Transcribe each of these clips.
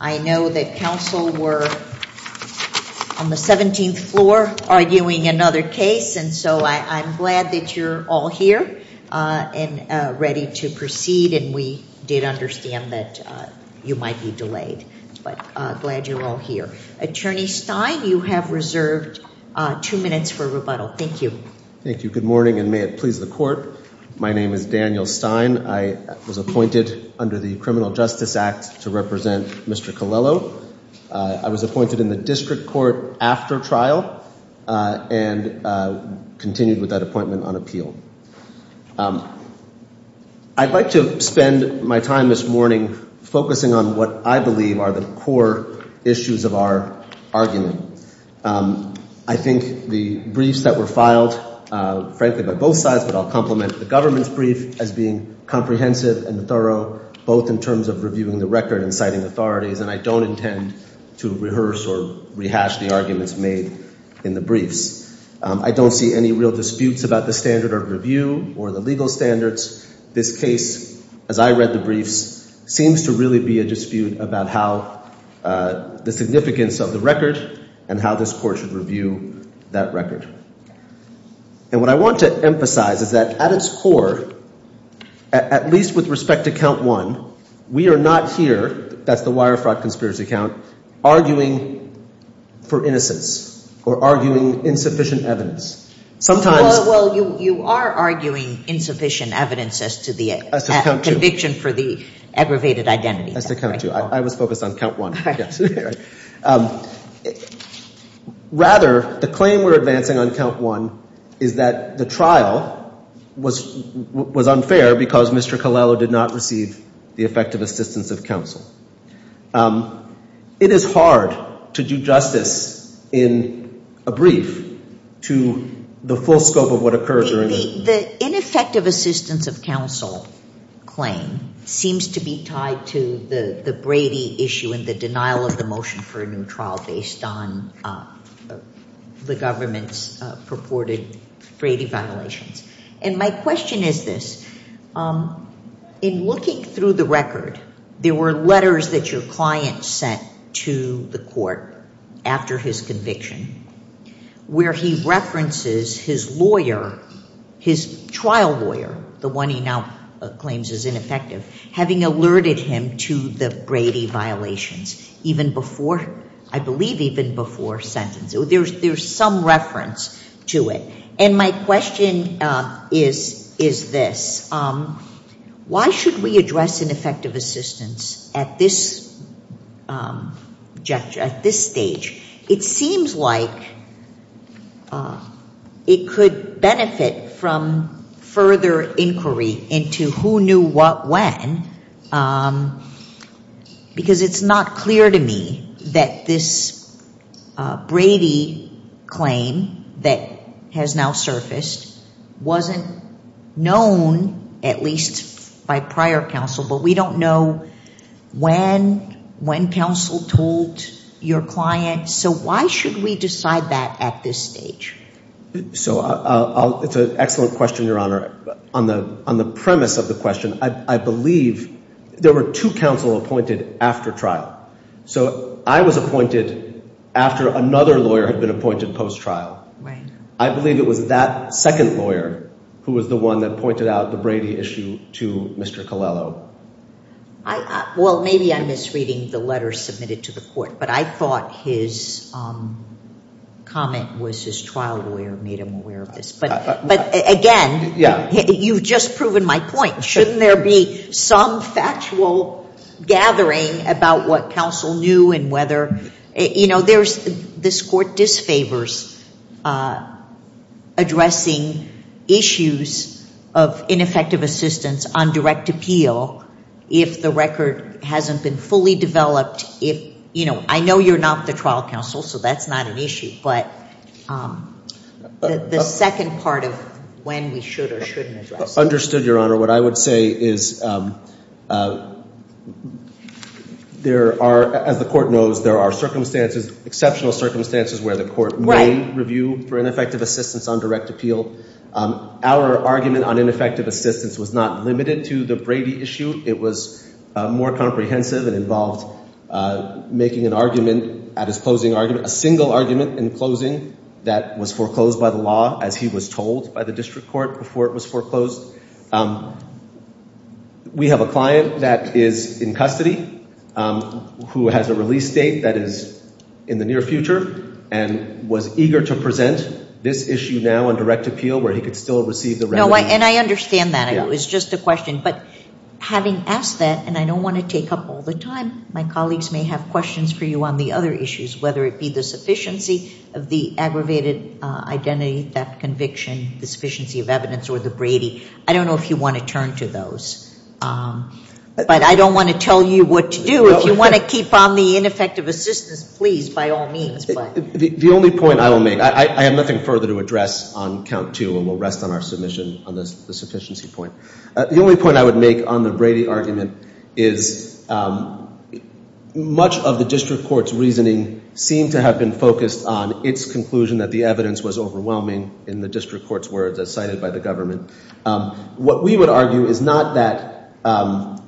I know that counsel were on the 17th floor arguing another case, and so I'm glad that you're all here and ready to proceed, and we did understand that you might be delayed, but glad you're all here. Attorney Stein, you have reserved two minutes for rebuttal. Thank you very much. Thank you. Good morning, and may it please the court. My name is Daniel Stein. I was appointed under the Criminal Justice Act to represent Mr. Colello. I was appointed in the district court after trial and continued with that appointment on appeal. I'd like to spend my time this morning focusing on what I believe are the core issues of our argument. I think the briefs that were filed, frankly, by both sides, but I'll compliment the government's brief as being comprehensive and thorough, both in terms of reviewing the record and citing authorities, and I don't intend to rehearse or rehash the arguments made in the briefs. I don't see any real disputes about the standard of review or the legal standards. This case, as I read the briefs, seems to really be a dispute about how the significance of the record and how this court should review that record. And what I want to emphasize is that at its core, at least with respect to count one, we are not here, that's the wire fraud conspiracy count, arguing for innocence or arguing insufficient evidence. Sometimes — Well, you are arguing insufficient evidence as to the conviction for the aggravated identity. I was focused on count one. Rather, the claim we're advancing on count one is that the trial was unfair because Mr. Colello did not receive the effective assistance of counsel. It is hard to do justice in a brief to the full scope of what occurred. The ineffective assistance of counsel claim seems to be tied to the Brady issue and the denial of the motion for a new trial based on the government's purported Brady violations. And my question is this. In looking through the record, there were letters that your client sent to the court after his conviction where he references his lawyer, his trial lawyer, the one he now claims is ineffective, having alerted him to the Brady violations even before, I believe even before sentence. There's some reference to it. And my question is this. Why should we address ineffective assistance at this stage? It seems like it could benefit from further inquiry into who knew what when because it's not clear to me that this Brady claim that has now surfaced wasn't known, at least by prior counsel. But we don't know when, when counsel told your client. So why should we decide that at this stage? So it's an excellent question, Your Honor. On the premise of the question, I believe there were two counsel appointed after trial. So I was appointed after another lawyer had been appointed post-trial. Right. I believe it was that second lawyer who was the one that pointed out the Brady issue to Mr. Colello. Well, maybe I'm misreading the letter submitted to the court, but I thought his comment was his trial lawyer made him aware of this. But again, you've just proven my point. Shouldn't there be some factual gathering about what counsel knew and whether, you know, there's, this court disfavors addressing issues of ineffective assistance on direct appeal if the record hasn't been fully developed. If, you know, I know you're not the trial counsel, so that's not an issue. But the second part of when we should or shouldn't address it. Understood, Your Honor. What I would say is there are, as the court knows, there are circumstances, exceptional circumstances where the court may review for ineffective assistance on direct appeal. Our argument on ineffective assistance was not limited to the Brady issue. It was more comprehensive and involved making an argument at his closing argument, a single argument in closing that was foreclosed by the law as he was told by the district court before it was foreclosed. We have a client that is in custody who has a release date that is in the near future and was eager to present this issue now on direct appeal where he could still receive the remedy. And I understand that. It was just a question. But having asked that, and I don't want to take up all the time, my colleagues may have questions for you on the other issues, whether it be the sufficiency of the aggravated identity theft conviction, the sufficiency of evidence or the Brady. I don't know if you want to turn to those. But I don't want to tell you what to do. If you want to keep on the ineffective assistance, please, by all means. The only point I will make, I have nothing further to address on count two and we'll rest on our submission on the sufficiency point. The only point I would make on the Brady argument is much of the district court's reasoning seemed to have been focused on its conclusion that the evidence was overwhelming in the district court's words as cited by the government. What we would argue is not that –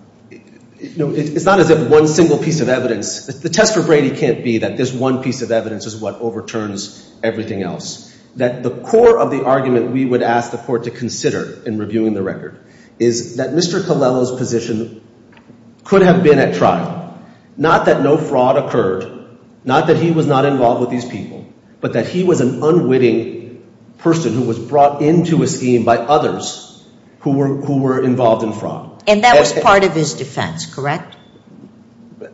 it's not as if one single piece of evidence – the test for Brady can't be that this one piece of evidence is what overturns everything else. That the core of the argument we would ask the court to consider in reviewing the record is that Mr. Colello's position could have been at trial. Not that no fraud occurred, not that he was not involved with these people, but that he was an unwitting person who was brought into a scheme by others who were involved in fraud. And that was part of his defense, correct?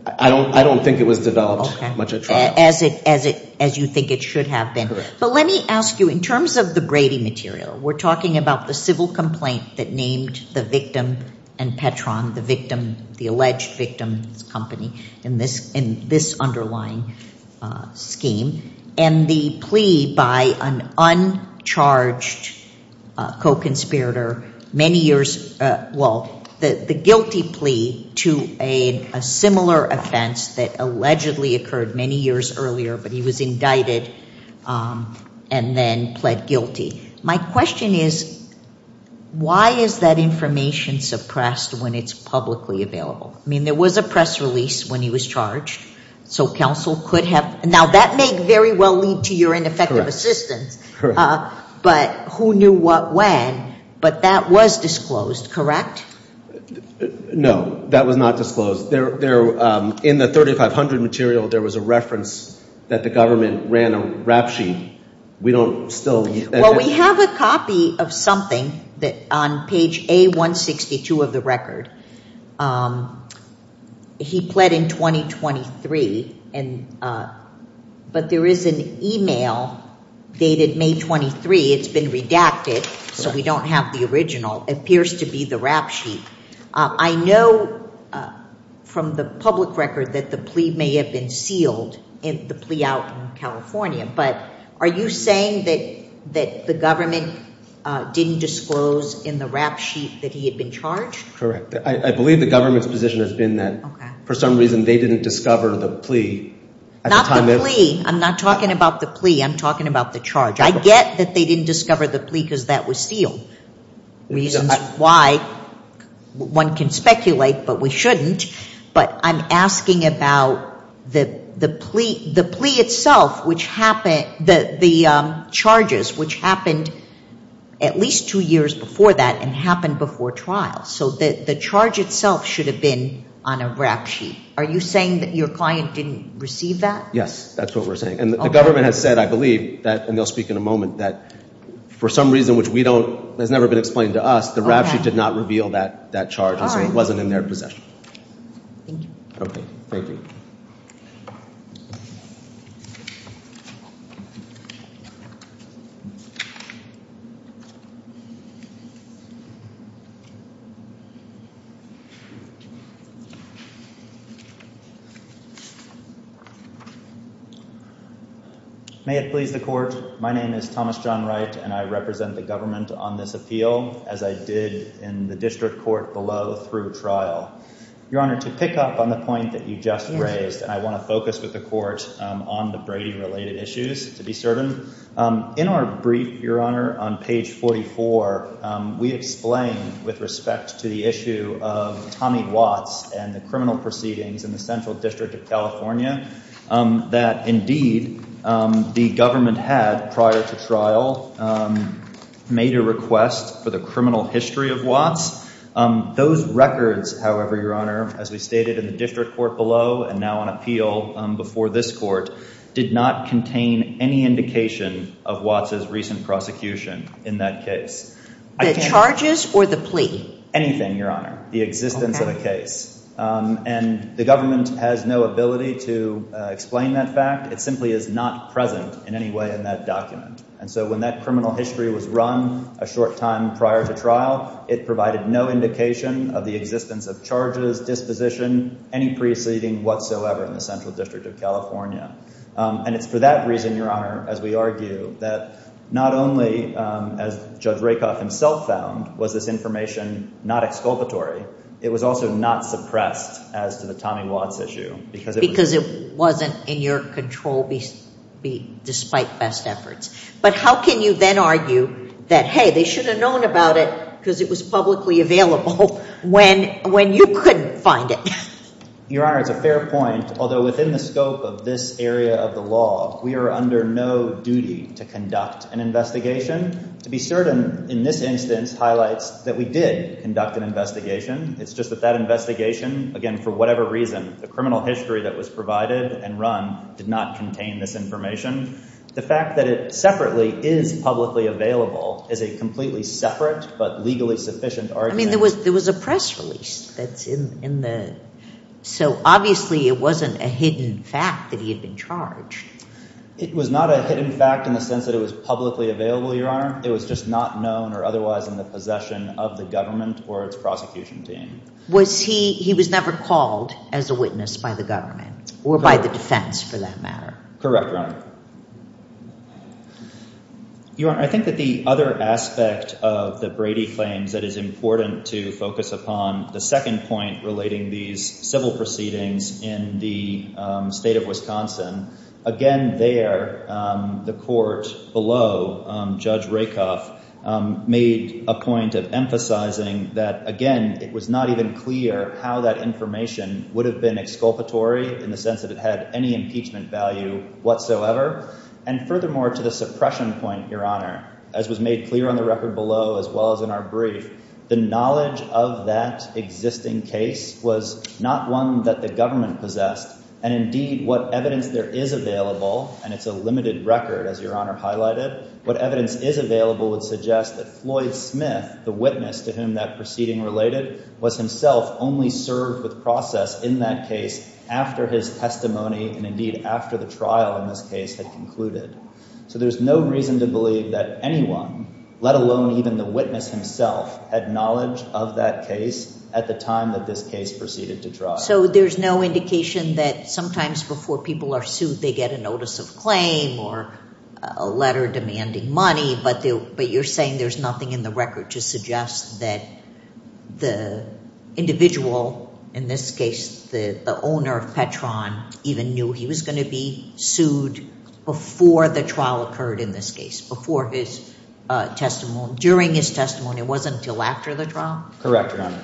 I don't think it was developed much at trial. As you think it should have been. Correct. But let me ask you, in terms of the Brady material, we're talking about the civil complaint that named the victim and Petron, the victim, the alleged victim's company, in this underlying scheme. And the plea by an uncharged co-conspirator, many years – well, the guilty plea to a similar offense that allegedly occurred many years earlier, but he was indicted and then pled guilty. My question is, why is that information suppressed when it's publicly available? I mean, there was a press release when he was charged. So counsel could have – now, that may very well lead to your ineffective assistance. Correct. But who knew what when, but that was disclosed, correct? No, that was not disclosed. In the 3500 material, there was a reference that the government ran a rap sheet. We don't still – We have a copy of something on page A162 of the record. He pled in 2023, but there is an email dated May 23. It's been redacted, so we don't have the original. It appears to be the rap sheet. I know from the public record that the plea may have been sealed, the plea out in California. But are you saying that the government didn't disclose in the rap sheet that he had been charged? Correct. I believe the government's position has been that for some reason they didn't discover the plea. Not the plea. I'm not talking about the plea. I'm talking about the charge. I get that they didn't discover the plea because that was sealed, reasons why one can speculate but we shouldn't. But I'm asking about the plea itself, the charges, which happened at least two years before that and happened before trial. So the charge itself should have been on a rap sheet. Are you saying that your client didn't receive that? Yes, that's what we're saying. And the government has said, I believe, and they'll speak in a moment, that for some reason which has never been explained to us, the rap sheet did not reveal that charge and so it wasn't in their possession. Thank you. Okay, thank you. May it please the court. My name is Thomas John Wright and I represent the government on this appeal as I did in the district court below through trial. Your Honor, to pick up on the point that you just raised, and I want to focus with the court on the Brady-related issues to be certain. In our brief, Your Honor, on page 44, we explain with respect to the issue of Tommy Watts and the criminal proceedings in the Central District of California, that indeed the government had, prior to trial, made a request for the criminal history of Watts. Those records, however, Your Honor, as we stated in the district court below and now on appeal before this court, did not contain any indication of Watts' recent prosecution in that case. The charges or the plea? Anything, Your Honor. The existence of a case. And the government has no ability to explain that fact. It simply is not present in any way in that document. And so when that criminal history was run a short time prior to trial, it provided no indication of the existence of charges, disposition, any preceding whatsoever in the Central District of California. And it's for that reason, Your Honor, as we argue, that not only, as Judge Rakoff himself found, was this information not exculpatory, it was also not suppressed as to the Tommy Watts issue. Because it wasn't in your control despite best efforts. But how can you then argue that, hey, they should have known about it because it was publicly available when you couldn't find it? Your Honor, it's a fair point. Although within the scope of this area of the law, we are under no duty to conduct an investigation. To be certain, in this instance highlights that we did conduct an investigation. It's just that that investigation, again, for whatever reason, the criminal history that was provided and run did not contain this information. The fact that it separately is publicly available is a completely separate but legally sufficient argument. I mean, there was a press release that's in the – so obviously it wasn't a hidden fact that he had been charged. It was not a hidden fact in the sense that it was publicly available, Your Honor. It was just not known or otherwise in the possession of the government or its prosecution team. Was he – he was never called as a witness by the government or by the defense for that matter? Correct, Your Honor. Your Honor, I think that the other aspect of the Brady claims that is important to focus upon, the second point relating these civil proceedings in the state of Wisconsin. Again, there the court below, Judge Rakoff, made a point of emphasizing that, again, it was not even clear how that information would have been exculpatory in the sense that it had any impeachment value whatsoever. And furthermore, to the suppression point, Your Honor, as was made clear on the record below as well as in our brief, the knowledge of that existing case was not one that the government possessed. And indeed, what evidence there is available – and it's a limited record, as Your Honor highlighted – what evidence is available would suggest that Floyd Smith, the witness to whom that proceeding related, was himself only served with process in that case after his testimony and indeed after the trial in this case had concluded. So there's no reason to believe that anyone, let alone even the witness himself, had knowledge of that case at the time that this case proceeded to trial. So there's no indication that sometimes before people are sued they get a notice of claim or a letter demanding money, but you're saying there's nothing in the record to suggest that the individual, in this case the owner of Petron, even knew he was going to be sued before the trial occurred in this case, before his testimony, during his testimony. It wasn't until after the trial? Correct, Your Honor.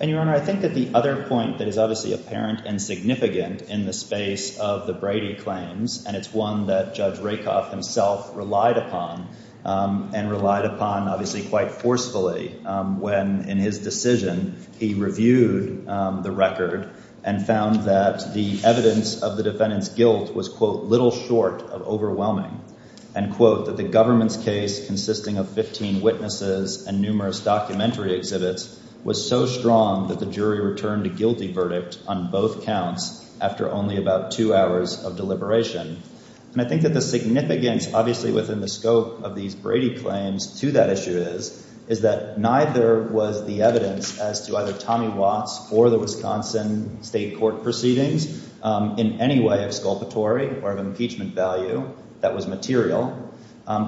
And, Your Honor, I think that the other point that is obviously apparent and significant in the space of the Brady claims, and it's one that Judge Rakoff himself relied upon and relied upon, obviously, quite forcefully, when in his decision he reviewed the record and found that the evidence of the defendant's guilt was, quote, and, quote, that the government's case, consisting of 15 witnesses and numerous documentary exhibits, was so strong that the jury returned a guilty verdict on both counts after only about two hours of deliberation. And I think that the significance, obviously, within the scope of these Brady claims to that issue is, is that neither was the evidence as to either Tommy Watts or the Wisconsin State Court proceedings in any way of sculpatory or of impeachment value that was material.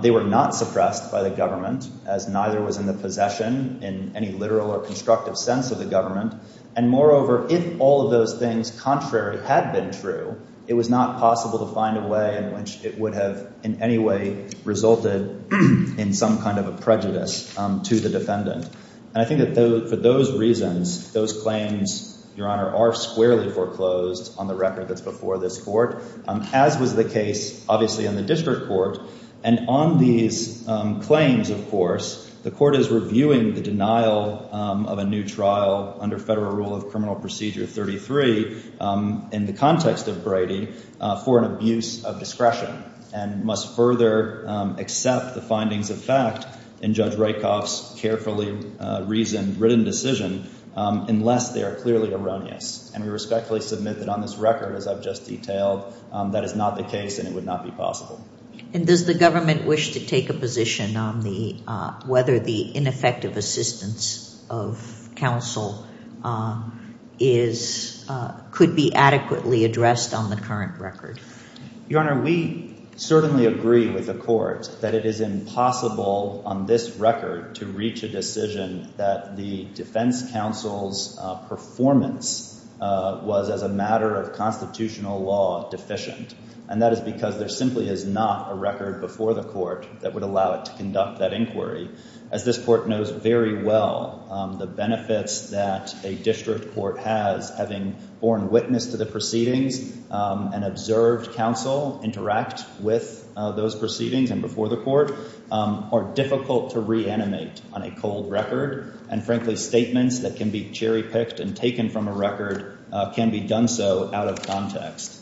They were not suppressed by the government, as neither was in the possession in any literal or constructive sense of the government. And, moreover, if all of those things contrary had been true, it was not possible to find a way in which it would have in any way resulted in some kind of a prejudice to the defendant. And I think that for those reasons, those claims, Your Honor, are squarely foreclosed on the record that's before this court, as was the case, obviously, in the district court. And on these claims, of course, the court is reviewing the denial of a new trial under federal rule of criminal procedure 33 in the context of Brady for an abuse of discretion and must further accept the findings of fact in Judge Rykoff's carefully reasoned, written decision, unless they are clearly erroneous. And we respectfully submit that on this record, as I've just detailed, that is not the case and it would not be possible. And does the government wish to take a position on the, whether the ineffective assistance of counsel is, could be adequately addressed on the current record? Your Honor, we certainly agree with the court that it is impossible on this record to reach a decision that the defense counsel's performance was, as a matter of constitutional law, deficient. And that is because there simply is not a record before the court that would allow it to conduct that inquiry. As this court knows very well, the benefits that a district court has, having borne witness to the proceedings and observed counsel interact with those proceedings and before the court, are difficult to reanimate on a cold record. And frankly, statements that can be cherry-picked and taken from a record can be done so out of context.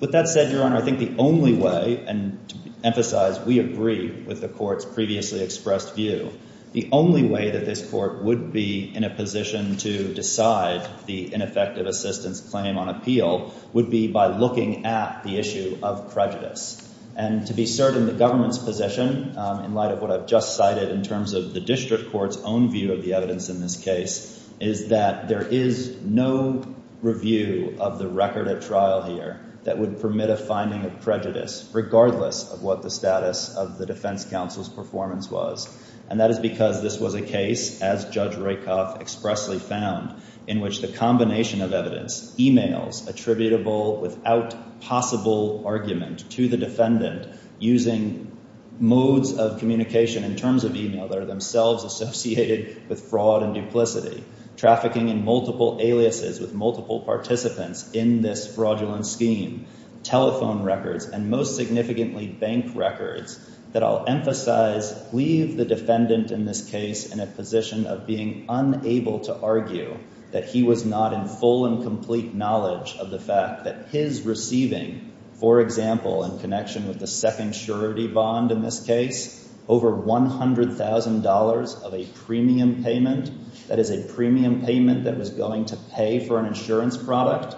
With that said, Your Honor, I think the only way, and to emphasize, we agree with the court's previously expressed view, the only way that this court would be in a position to decide the ineffective assistance claim on appeal would be by looking at the issue of prejudice. And to be certain, the government's position, in light of what I've just cited in terms of the district court's own view of the evidence in this case, is that there is no review of the record at trial here that would permit a finding of prejudice, regardless of what the status of the defense counsel's performance was. And that is because this was a case, as Judge Roykoff expressly found, in which the combination of evidence, e-mails attributable without possible argument to the defendant, using modes of communication in terms of e-mail that are themselves associated with fraud and duplicity, trafficking in multiple aliases with multiple participants in this fraudulent scheme, telephone records, and most significantly, bank records, that I'll emphasize leave the defendant in this case in a position of being unable to argue that he was not in full and complete knowledge of the fact that his receiving, for example, in connection with the second surety bond in this case, over $100,000 of a premium payment, that is a premium payment that was going to pay for an insurance product,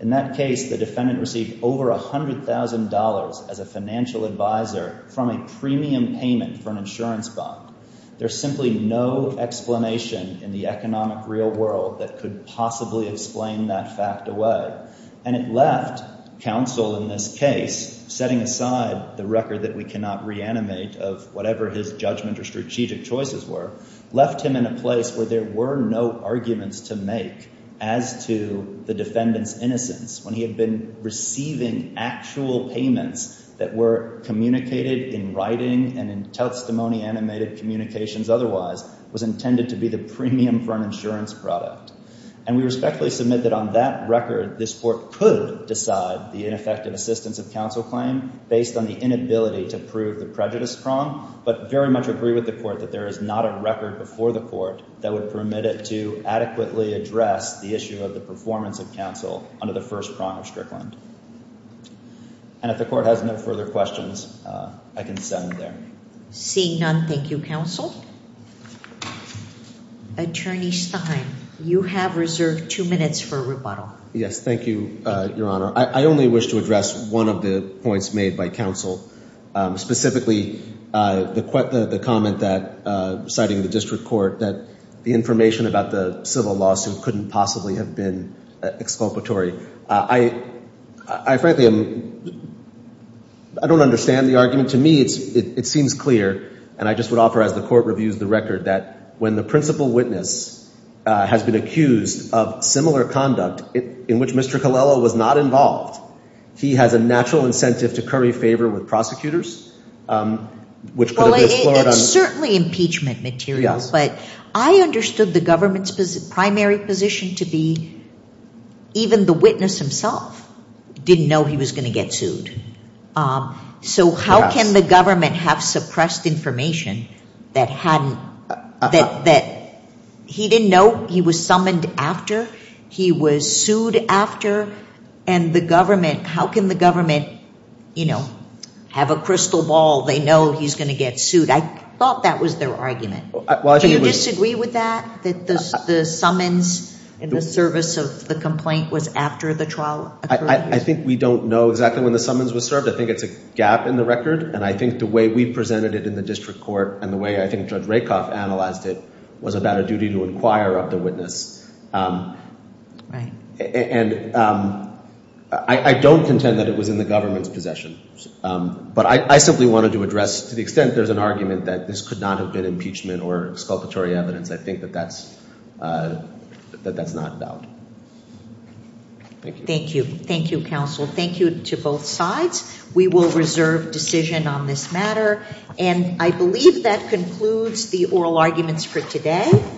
in that case the defendant received over $100,000 as a financial advisor from a premium payment for an insurance bond. There's simply no explanation in the economic real world that could possibly explain that fact away. And it left counsel in this case, setting aside the record that we cannot reanimate of whatever his judgment or strategic choices were, left him in a place where there were no arguments to make as to the defendant's innocence when he had been receiving actual payments that were communicated in writing and in testimony-animated communications otherwise was intended to be the premium for an insurance product. And we respectfully submit that on that record, this court could decide the ineffective assistance of counsel claim based on the inability to prove the prejudice prong, but very much agree with the court that there is not a record before the court that would permit it to adequately address the issue of the performance of counsel under the first prong of Strickland. And if the court has no further questions, I can send it there. Seeing none, thank you, counsel. Attorney Stein, you have reserved two minutes for rebuttal. Yes, thank you, Your Honor. I only wish to address one of the points made by counsel, specifically the comment that, citing the district court, that the information about the civil lawsuit couldn't possibly have been exculpatory. I frankly am, I don't understand the argument. To me, it seems clear, and I just would offer as the court reviews the record, that when the principal witness has been accused of similar conduct in which Mr. Colella was not involved, he has a natural incentive to curry favor with prosecutors, which could have been explored on the- Well, it's certainly impeachment material. Yes. But I understood the government's primary position to be even the witness himself didn't know he was going to get sued. So how can the government have suppressed information that he didn't know he was summoned after, he was sued after, and the government, how can the government, you know, have a crystal ball, they know he's going to get sued? I thought that was their argument. Do you disagree with that, that the summons in the service of the complaint was after the trial occurred? I think we don't know exactly when the summons were served. I think it's a gap in the record, and I think the way we presented it in the district court and the way I think Judge Rakoff analyzed it was about a duty to inquire of the witness. Right. And I don't contend that it was in the government's possession, but I simply wanted to address, to the extent there's an argument that this could not have been impeachment or exculpatory evidence, I think that that's not doubt. Thank you. Thank you, counsel. Thank you to both sides. We will reserve decision on this matter, and I believe that concludes the oral arguments for today.